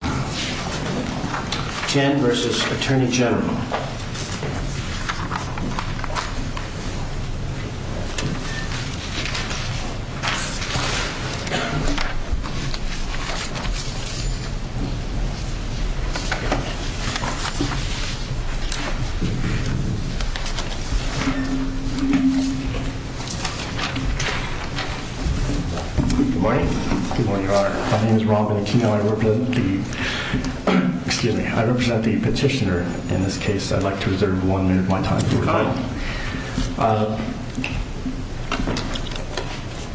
Good morning. Good morning, Your Honor. My name is Robin Aquino. I work with the U.S. Excuse me. I represent the petitioner in this case. I'd like to reserve one minute of my time.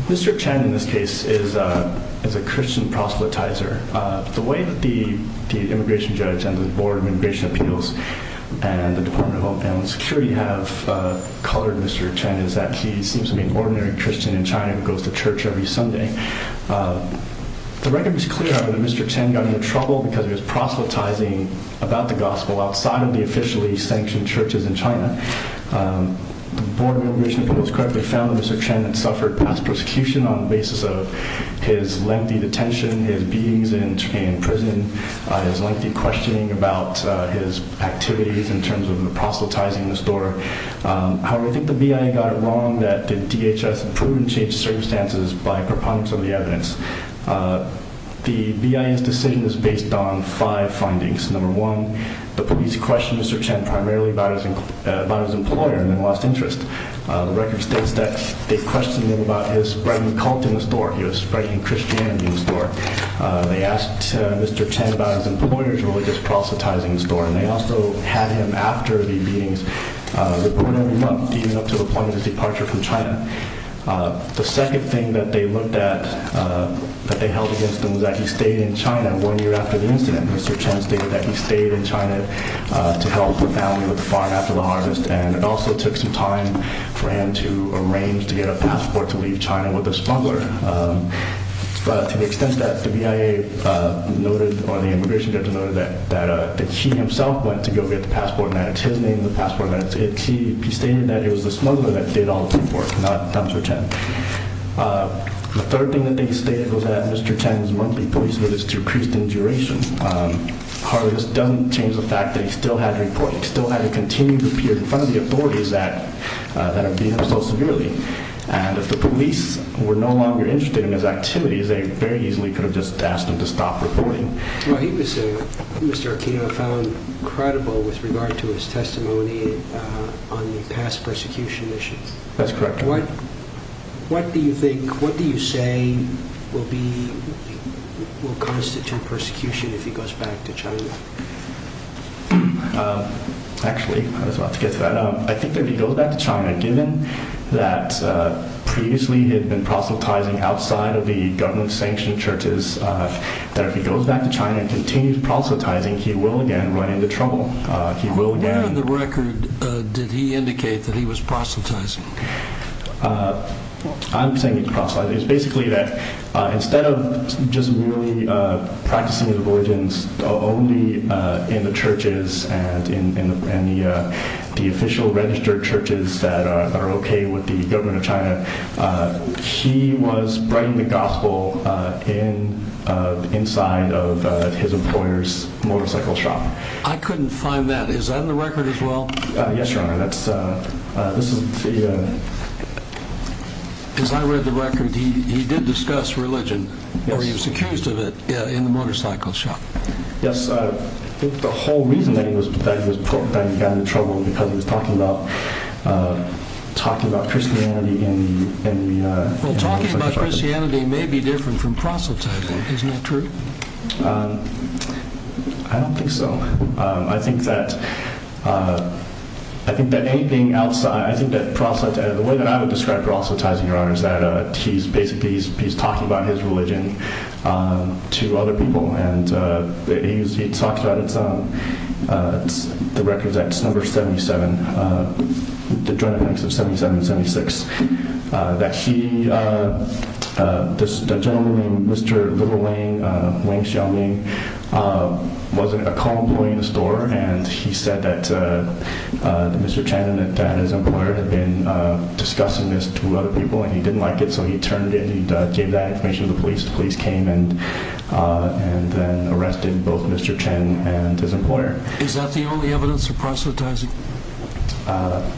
Mr. Chen, in this case, is a Christian proselytizer. The way that the immigration judge and the Board of Immigration Appeals and the Department of Homeland Security have colored Mr. Chen is that he seems to be an ordinary Christian in China who goes to church every Sunday. The record is clear that Mr. Chen got into trouble because he was proselytizing about the gospel outside of the officially sanctioned churches in China. The Board of Immigration Appeals correctly found that Mr. Chen had suffered past prosecution on the basis of his lengthy detention, his beatings in prison, his lengthy questioning about his activities in terms of proselytizing the store. However, I think the BIA got it wrong that the DHS approved and changed circumstances by proponents of the evidence. The BIA's decision is based on five findings. Number one, the police questioned Mr. Chen primarily about his employer and then lost interest. The record states that they questioned him about his spreading cult in the store. He was spreading Christianity in the store. They asked Mr. Chen about his employer's religious proselytizing store and they also had him, after the beatings, report every month even up to the point of his departure from China. The second thing that they looked at, that they held against him, was that he stayed in China one year after the incident. Mr. Chen stated that he stayed in China to help the family with the farm after the harvest and it also took some time for him to arrange to get a passport to leave China with a smuggler. But to the extent that the BIA noted, or the immigration judge noted, that he himself went to go get the passport and that it's his name, the passport, he stated that it was the smuggler that did all the teamwork, not Mr. Chen. The third thing that they stated was that Mr. Chen's monthly police visits decreased in duration. However, this doesn't change the fact that he still had to report. He still had to continue to appear in front of the authorities that are beating him so severely. And if the police were no longer interested in his activities, they very easily could have just asked him to stop reporting. Well, he was, Mr. Aquino, found credible with regard to his testimony on the past persecution issues. That's correct. What do you think, what do you say will constitute persecution if he goes back to China? Actually, I was about to get to that. I think that if he goes back to China, given that previously he had been proselytizing outside of the government-sanctioned churches, that if he goes back to China and continues proselytizing, he will again run into trouble. Where on the record did he indicate that he was proselytizing? I'm saying he's proselytizing. It's basically that instead of just merely practicing the religions only in the churches, and in the official registered churches that are okay with the government of China, he was spreading the gospel inside of his employer's motorcycle shop. I couldn't find that. Is that on the record as well? Yes, Your Honor. As I read the record, he did discuss religion, or he was accused of it, in the motorcycle shop. Yes. I think the whole reason that he got into trouble was because he was talking about Christianity in the motorcycle shop. Well, talking about Christianity may be different from proselytizing. Isn't that true? I don't think so. I think that proselytizing, the way that I would describe proselytizing, Your Honor, is that he's basically talking about his religion to other people. He talks about the records at number 77, the Joint Appointments of 77 and 76. The gentleman named Mr. Little Wang, Wang Xiaoming, was a call employee in the store, and he said that Mr. Chan and his employer had been discussing this to other people, and he didn't like it, so he turned in and gave that information to the police. The police came and then arrested both Mr. Chan and his employer. Is that the only evidence of proselytizing? I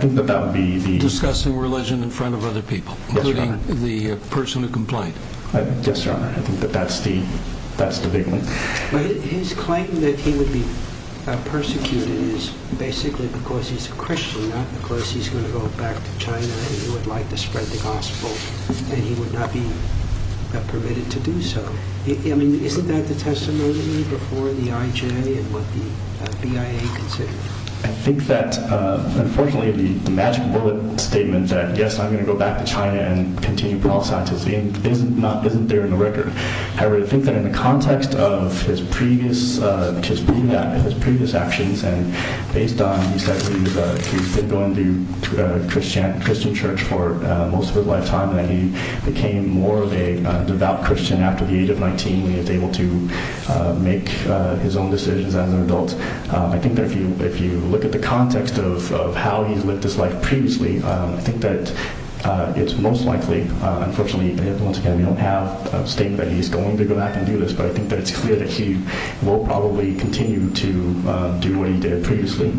think that that would be the... Discussing religion in front of other people, including the person who complained. Yes, Your Honor. I think that that's the big one. His claim that he would be persecuted is basically because he's a Christian, not because he's going to go back to China and he would like to spread the gospel, and he would not be permitted to do so. I mean, isn't that the testimony before the IJ and what the BIA considered? I think that, unfortunately, the magic bullet statement that, yes, I'm going to go back to China and continue proselytizing, isn't there in the record. However, I think that in the context of his previous actions, and based on what he said, he's been going to a Christian church for most of his lifetime, and he became more of a devout Christian after the age of 19 when he was able to make his own decisions as an adult. I think that if you look at the context of how he's lived his life previously, I think that it's most likely, unfortunately, once again, we don't have a statement that he's going to go back and do this, but I think that it's clear that he will probably continue to do what he did previously.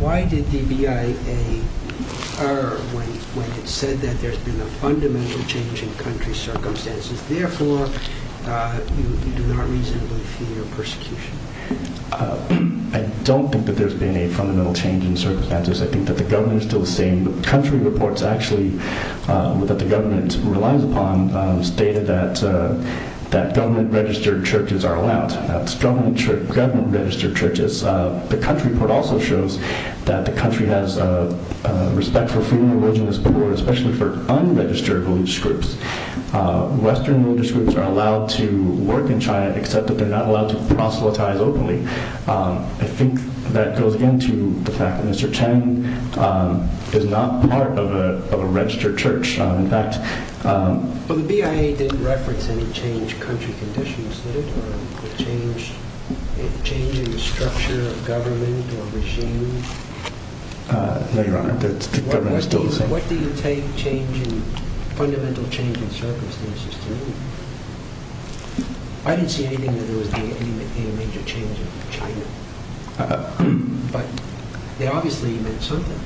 Why did the BIA err when it said that there's been a fundamental change in country circumstances, therefore you do not reasonably fear persecution? I don't think that there's been a fundamental change in circumstances. I think that the government is still the same. The country reports, actually, that the government relies upon, stated that government-registered churches are allowed. That's government-registered churches. The country report also shows that the country has respect for freedom of religion as before, especially for unregistered religious groups. Western religious groups are allowed to work in China, except that they're not allowed to proselytize openly. I think that goes, again, to the fact that Mr. Cheng is not part of a registered church. But the BIA didn't reference any change in country conditions, did it, or change in the structure of government or regime? No, Your Honor, the government is still the same. What do you take fundamental change in circumstances to mean? I didn't see anything that there was any major change in China. But they obviously meant something.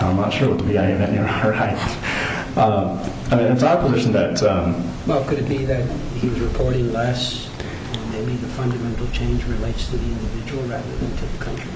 I'm not sure what the BIA meant, Your Honor. I mean, it's our position that... Well, could it be that he was reporting less, and maybe the fundamental change relates to the individual rather than to the country?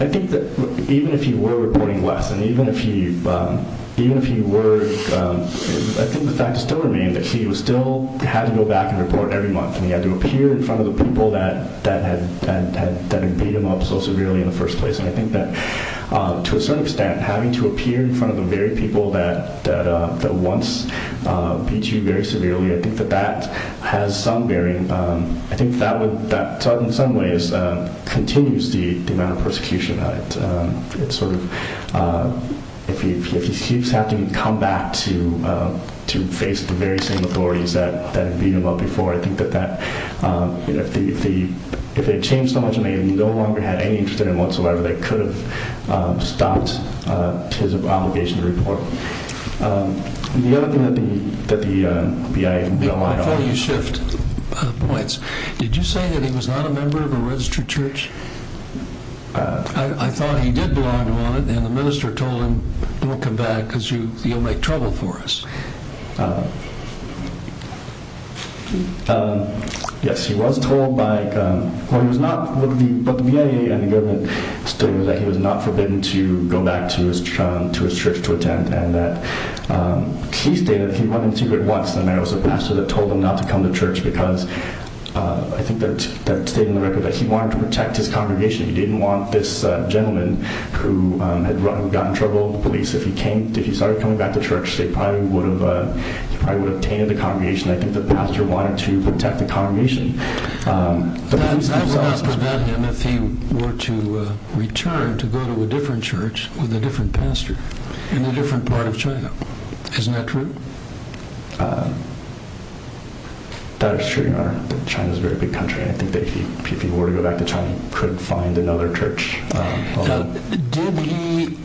I think that even if he were reporting less, and even if he were... I think the fact still remains that he still had to go back and report every month, and he had to appear in front of the people that had beat him up so severely in the first place. And I think that, to a certain extent, having to appear in front of the very people that once beat you very severely, I think that that has some bearing. I think that in some ways continues the amount of persecution. It's sort of... If he keeps having to come back to face the very same authorities that beat him up before, I think that if they had changed so much, and they no longer had any interest in him whatsoever, they could have stopped his obligation to report. The other thing that the BIA... Before you shift points, did you say that he was not a member of a registered church? I thought he did belong to one, and the minister told him, don't come back, because you'll make trouble for us. Yes, he was told by... Well, he was not... But the BIA and the government stated that he was not forbidden to go back to his church to attend, and that he stated that he went in secret once, and there was a pastor that told him not to come to church, because I think that stated in the record that he wanted to protect his congregation. He didn't want this gentleman who got in trouble, the police, if he started coming back to church, they probably would have tainted the congregation. I think the pastor wanted to protect the congregation. That would not prevent him if he were to return to go to a different church with a different pastor in a different part of China. Isn't that true? That is true, Your Honor. China is a very big country. I think that if he were to go back to China, he couldn't find another church. Did he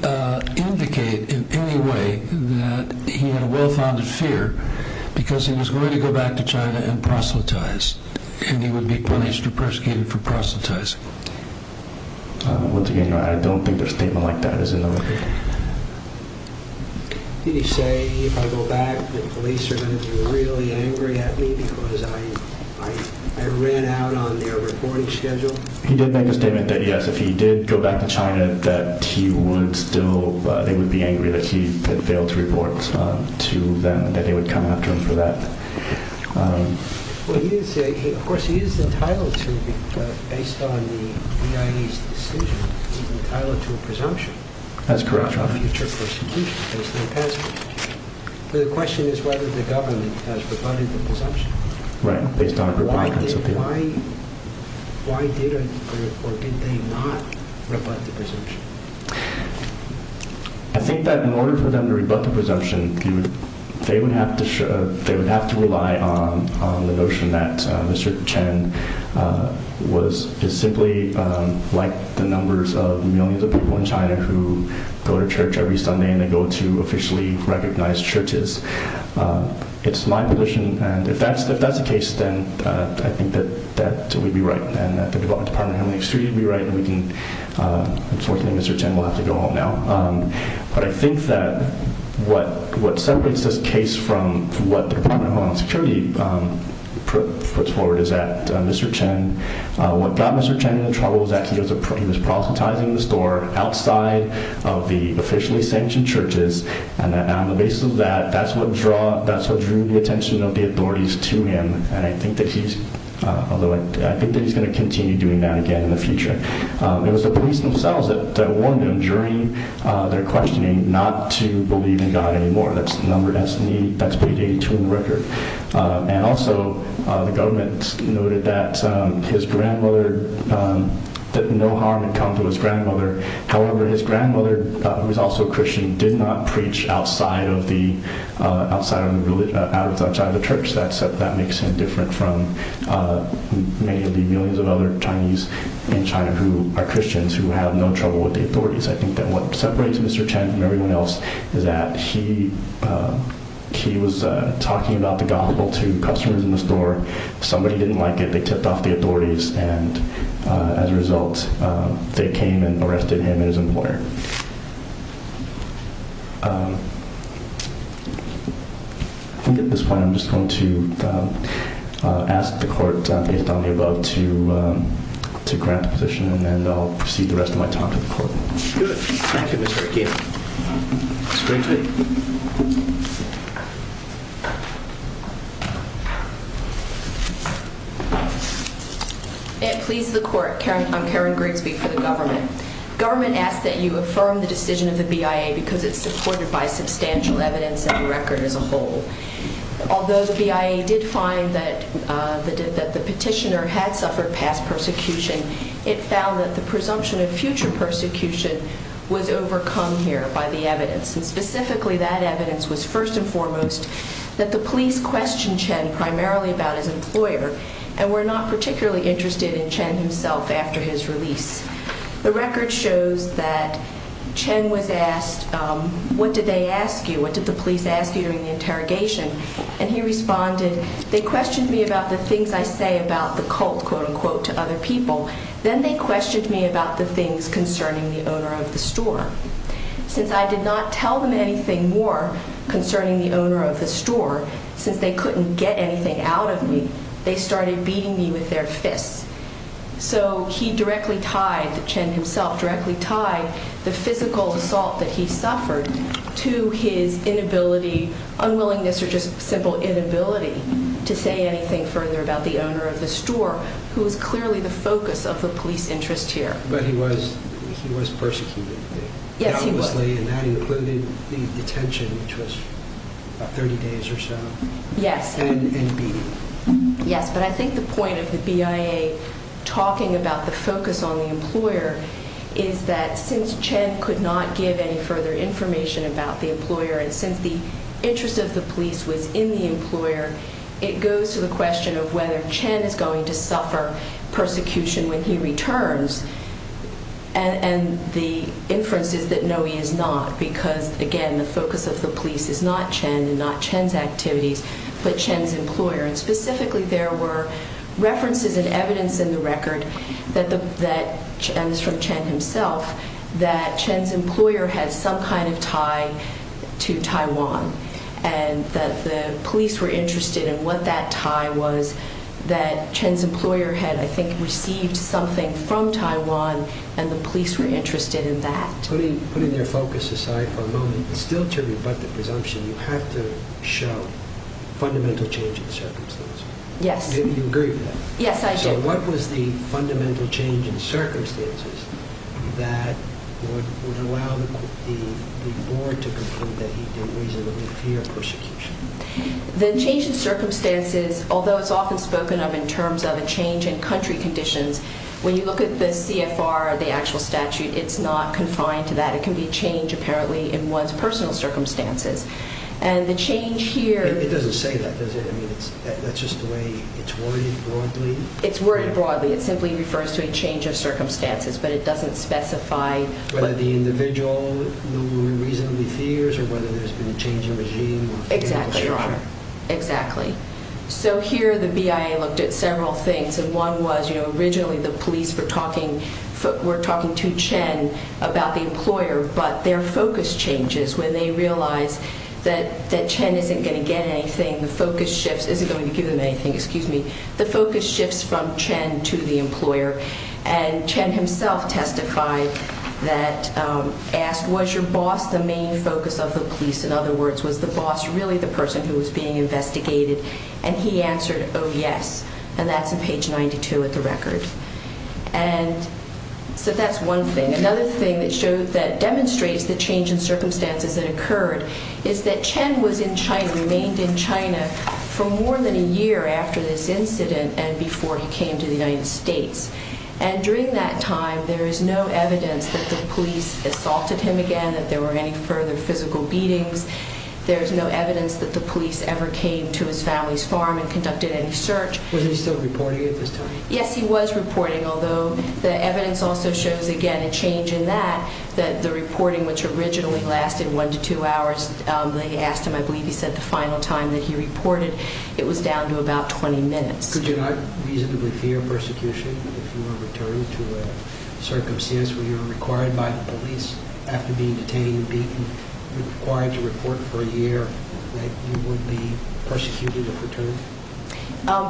indicate in any way that he had a well-founded fear, because he was going to go back to China and proselytize, and he would be punished or persecuted for proselytizing? Once again, I don't think a statement like that is in the record. Did he say, if I go back, the police are going to be really angry at me because I ran out on their reporting schedule? He did make a statement that, yes, if he did go back to China, that they would be angry that he had failed to report to them, that they would come after him for that. Of course, he is entitled to, based on the EIE's decision, he's entitled to a presumption. That's correct, Your Honor. The question is whether the government has rebutted the presumption. Right, based on a rebuttance of the EIE. Why did or did they not rebut the presumption? I think that in order for them to rebut the presumption, they would have to rely on the notion that Mr. Chen is simply like the numbers of millions of people in China who go to church every Sunday and they go to officially recognized churches. It's my position, and if that's the case, then I think that we'd be right, and the Department of Homeland Security would be right. Unfortunately, Mr. Chen will have to go home now. But I think that what separates this case from what the Department of Homeland Security puts forward is that Mr. Chen, what got Mr. Chen into trouble is that he was proselytizing the store outside of the officially sanctioned churches, and on the basis of that, that's what drew the attention of the authorities to him, and I think that he's going to continue doing that again in the future. It was the police themselves that warned him during their questioning not to believe in God anymore. That's page 82 in the record. And also, the government noted that his grandmother that no harm had come to his grandmother. However, his grandmother, who is also a Christian, did not preach outside of the church. That makes him different from many of the millions of other Chinese in China who are Christians who have no trouble with the authorities. I think that what separates Mr. Chen from everyone else is that he was talking about the gospel to customers in the store. Somebody didn't like it. They tipped off the authorities, and as a result, they came and arrested him and his employer. I think at this point, I'm just going to ask the court, based on the above, to grant the position, and then I'll proceed the rest of my time to the court. Good. Thank you, Mr. Akim. Great day. Please, the court. I'm Karen Grigsby for the government. Government asks that you affirm the decision of the BIA because it's supported by substantial evidence and the record as a whole. Although the BIA did find that the petitioner had suffered past persecution, it found that the presumption of future persecution was overcome here by the evidence, and specifically that evidence was first and foremost that the police questioned Chen primarily about his employer, and were not particularly interested in Chen himself after his release. The record shows that Chen was asked, What did they ask you? What did the police ask you during the interrogation? And he responded, They questioned me about the things I say about the cult, quote-unquote, to other people. Then they questioned me about the things concerning the owner of the store. Since I did not tell them anything more concerning the owner of the store, since they couldn't get anything out of me, they started beating me with their fists. So he directly tied, Chen himself directly tied, the physical assault that he suffered to his inability, unwillingness or just simple inability, to say anything further about the owner of the store, who was clearly the focus of the police interest here. But he was persecuted. Yes, he was. And that included the detention, which was about 30 days or so. Yes. And beating. Yes, but I think the point of the BIA talking about the focus on the employer is that since Chen could not give any further information about the employer and since the interest of the police was in the employer, it goes to the question of whether Chen is going to suffer persecution when he returns. And the inference is that no, he is not, because, again, the focus of the police is not Chen and not Chen's activities, but Chen's employer. And specifically there were references and evidence in the record, and this is from Chen himself, that Chen's employer had some kind of tie to Taiwan and that the police were interested in what that tie was, that Chen's employer had, I think, received something from Taiwan and the police were interested in that. Putting their focus aside for a moment, still to rebut the presumption, you have to show fundamental change in circumstances. Yes. You agree with that? Yes, I do. So what was the fundamental change in circumstances that would allow the board to conclude that he did reasonably fear persecution? The change in circumstances, although it's often spoken of in terms of a change in country conditions, when you look at the CFR, the actual statute, it's not confined to that. It can be a change, apparently, in one's personal circumstances. And the change here… It doesn't say that, does it? I mean, that's just the way it's worded broadly? It's worded broadly. It simply refers to a change of circumstances, but it doesn't specify… Whether the individual reasonably fears or whether there's been a change in regime or… Exactly, Your Honor. Exactly. So here the BIA looked at several things, and one was originally the police were talking to Chen about the employer, but their focus changes when they realize that Chen isn't going to get anything. The focus shifts. Isn't going to give them anything. Excuse me. The focus shifts from Chen to the employer, and Chen himself testified that… Asked, was your boss the main focus of the police? In other words, was the boss really the person who was being investigated? And he answered, oh, yes. And that's on page 92 of the record. And so that's one thing. Another thing that demonstrates the change in circumstances that occurred is that Chen was in China, remained in China, for more than a year after this incident and before he came to the United States. And during that time, there is no evidence that the police assaulted him again, that there were any further physical beatings. There's no evidence that the police ever came to his family's farm and conducted any search. Was he still reporting at this time? Yes, he was reporting, although the evidence also shows, again, a change in that, that the reporting, which originally lasted one to two hours, they asked him, I believe he said, the final time that he reported. It was down to about 20 minutes. Could you not reasonably fear persecution if you were returned to a circumstance where you were required by the police after being detained and being required to report for a year that you would be persecuted if returned?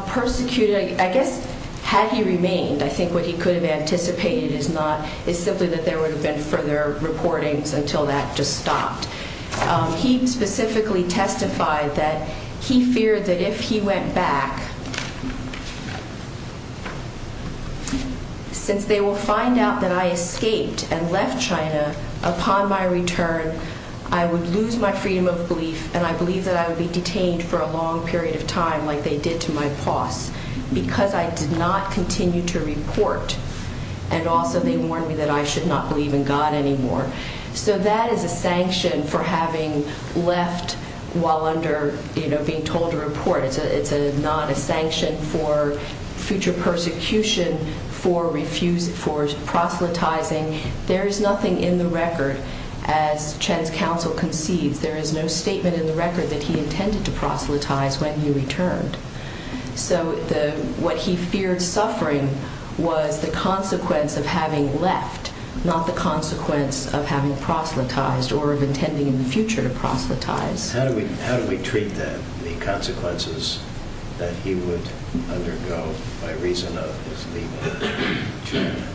Persecuted, I guess, had he remained, I think what he could have anticipated is not, is simply that there would have been further reportings until that just stopped. He specifically testified that he feared that if he went back, since they will find out that I escaped and left China, upon my return, I would lose my freedom of belief and I believe that I would be detained for a long period of time like they did to my boss, because I did not continue to report. And also they warned me that I should not believe in God anymore. So that is a sanction for having left while under, you know, being told to report. It's not a sanction for future persecution, for proselytizing. There is nothing in the record, as Chen's counsel concedes, there is no statement in the record that he intended to proselytize when he returned. So what he feared suffering was the consequence of having left, not the consequence of having proselytized or of intending in the future to proselytize. How do we treat that, the consequences that he would undergo by reason of his leaving China?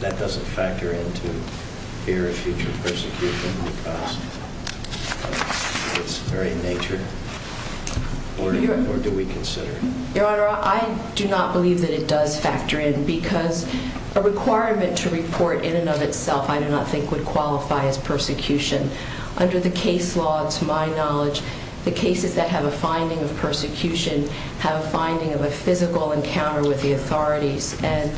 That doesn't factor into fear of future persecution because of its very nature? Or do we consider it? Your Honor, I do not believe that it does factor in because a requirement to report in and of itself I do not think would qualify as persecution. Under the case law, to my knowledge, the cases that have a finding of persecution have a finding of a physical encounter with the authorities. And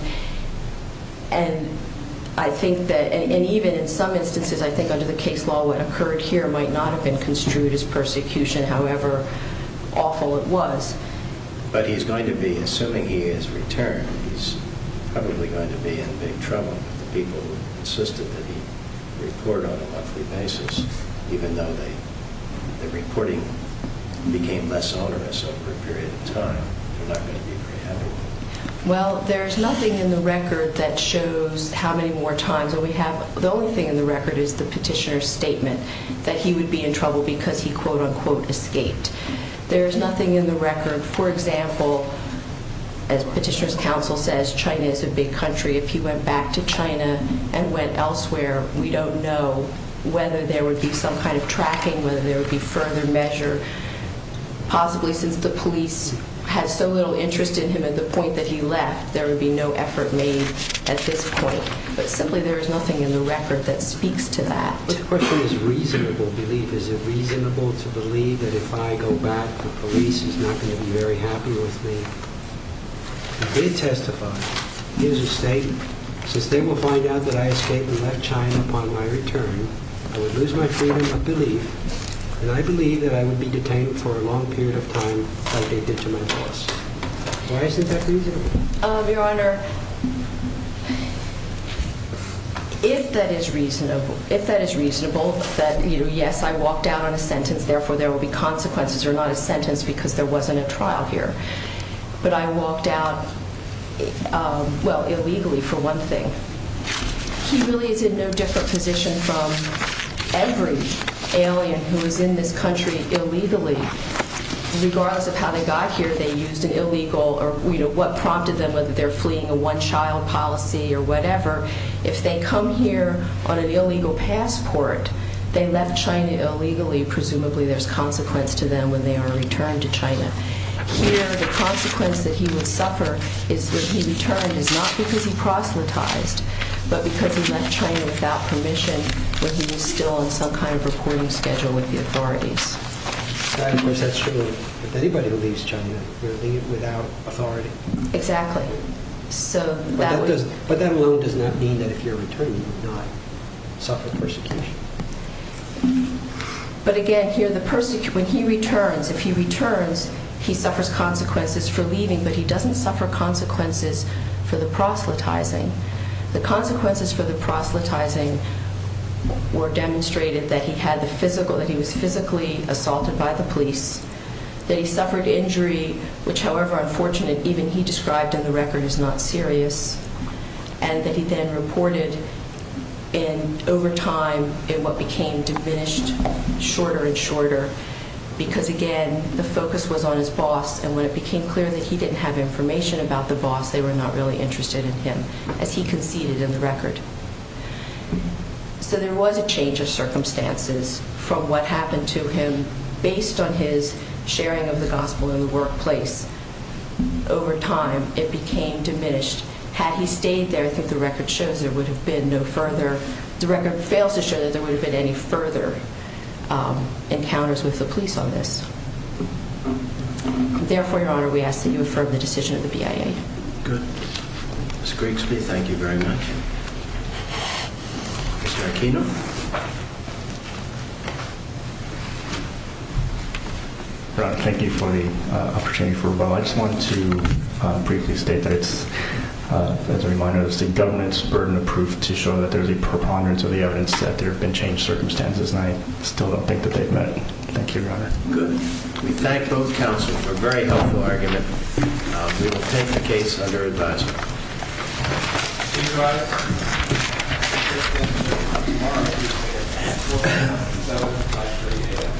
I think that, and even in some instances, I think under the case law what occurred here might not have been construed as persecution, however awful it was. But he's going to be, assuming he has returned, he's probably going to be in big trouble if the people who insisted that he report on a monthly basis, even though the reporting became less onerous over a period of time. They're not going to be preempted. Well, there's nothing in the record that shows how many more times. The only thing in the record is the petitioner's statement that he would be in trouble because he, quote-unquote, escaped. There's nothing in the record, for example, as petitioner's counsel says, China is a big country. If he went back to China and went elsewhere, we don't know whether there would be some kind of tracking, whether there would be further measure. Possibly since the police had so little interest in him and the point that he left, there would be no effort made at this point. But simply there is nothing in the record that speaks to that. But of course there is reasonable belief. Is it reasonable to believe that if I go back, the police is not going to be very happy with me? He did testify. He has a statement. Since they will find out that I escaped and left China upon my return, I would lose my freedom of belief, and I believe that I would be detained for a long period of time like they did to my boss. Why is that reasonable? Your Honor, if that is reasonable, that yes, I walked out on a sentence, therefore there will be consequences or not a sentence because there wasn't a trial here. But I walked out, well, illegally for one thing. He really is in no different position from every alien who was in this country illegally. Regardless of how they got here, they used an illegal or, you know, what prompted them, whether they're fleeing a one-child policy or whatever, if they come here on an illegal passport, they left China illegally, presumably there's consequence to them when they are returned to China. Here the consequence that he would suffer is that he returned is not because he proselytized, but because he left China without permission when he was still on some kind of recording schedule with the authorities. Right, of course, that's true. With anybody who leaves China, they leave without authority. Exactly. But that alone does not mean that if you're returning, you will not suffer persecution. But again, here the person, when he returns, if he returns, he suffers consequences for leaving, but he doesn't suffer consequences for the proselytizing. The consequences for the proselytizing were demonstrated that he was physically assaulted by the police, that he suffered injury, which, however unfortunate, even he described in the record, is not serious, and that he then reported over time in what became diminished, shorter and shorter, because, again, the focus was on his boss, and when it became clear that he didn't have information about the boss, they were not really interested in him, as he conceded in the record. So there was a change of circumstances from what happened to him based on his sharing of the gospel in the workplace. Over time, it became diminished. Had he stayed there, as the record shows, there would have been no further... The record fails to show that there would have been any further encounters with the police on this. Therefore, Your Honor, we ask that you affirm the decision of the BIA. Good. Ms. Grigsby, thank you very much. Mr. Aquino. Your Honor, thank you for the opportunity for rebuttal. I just want to briefly state that it's... As a reminder, it's the government's burden of proof to show that there's a preponderance of the evidence that there have been change of circumstances, and I still don't think that they've met. Thank you, Your Honor. Good. We thank both counsel for a very helpful argument. We will take the case under advisement. Thank you, Your Honor.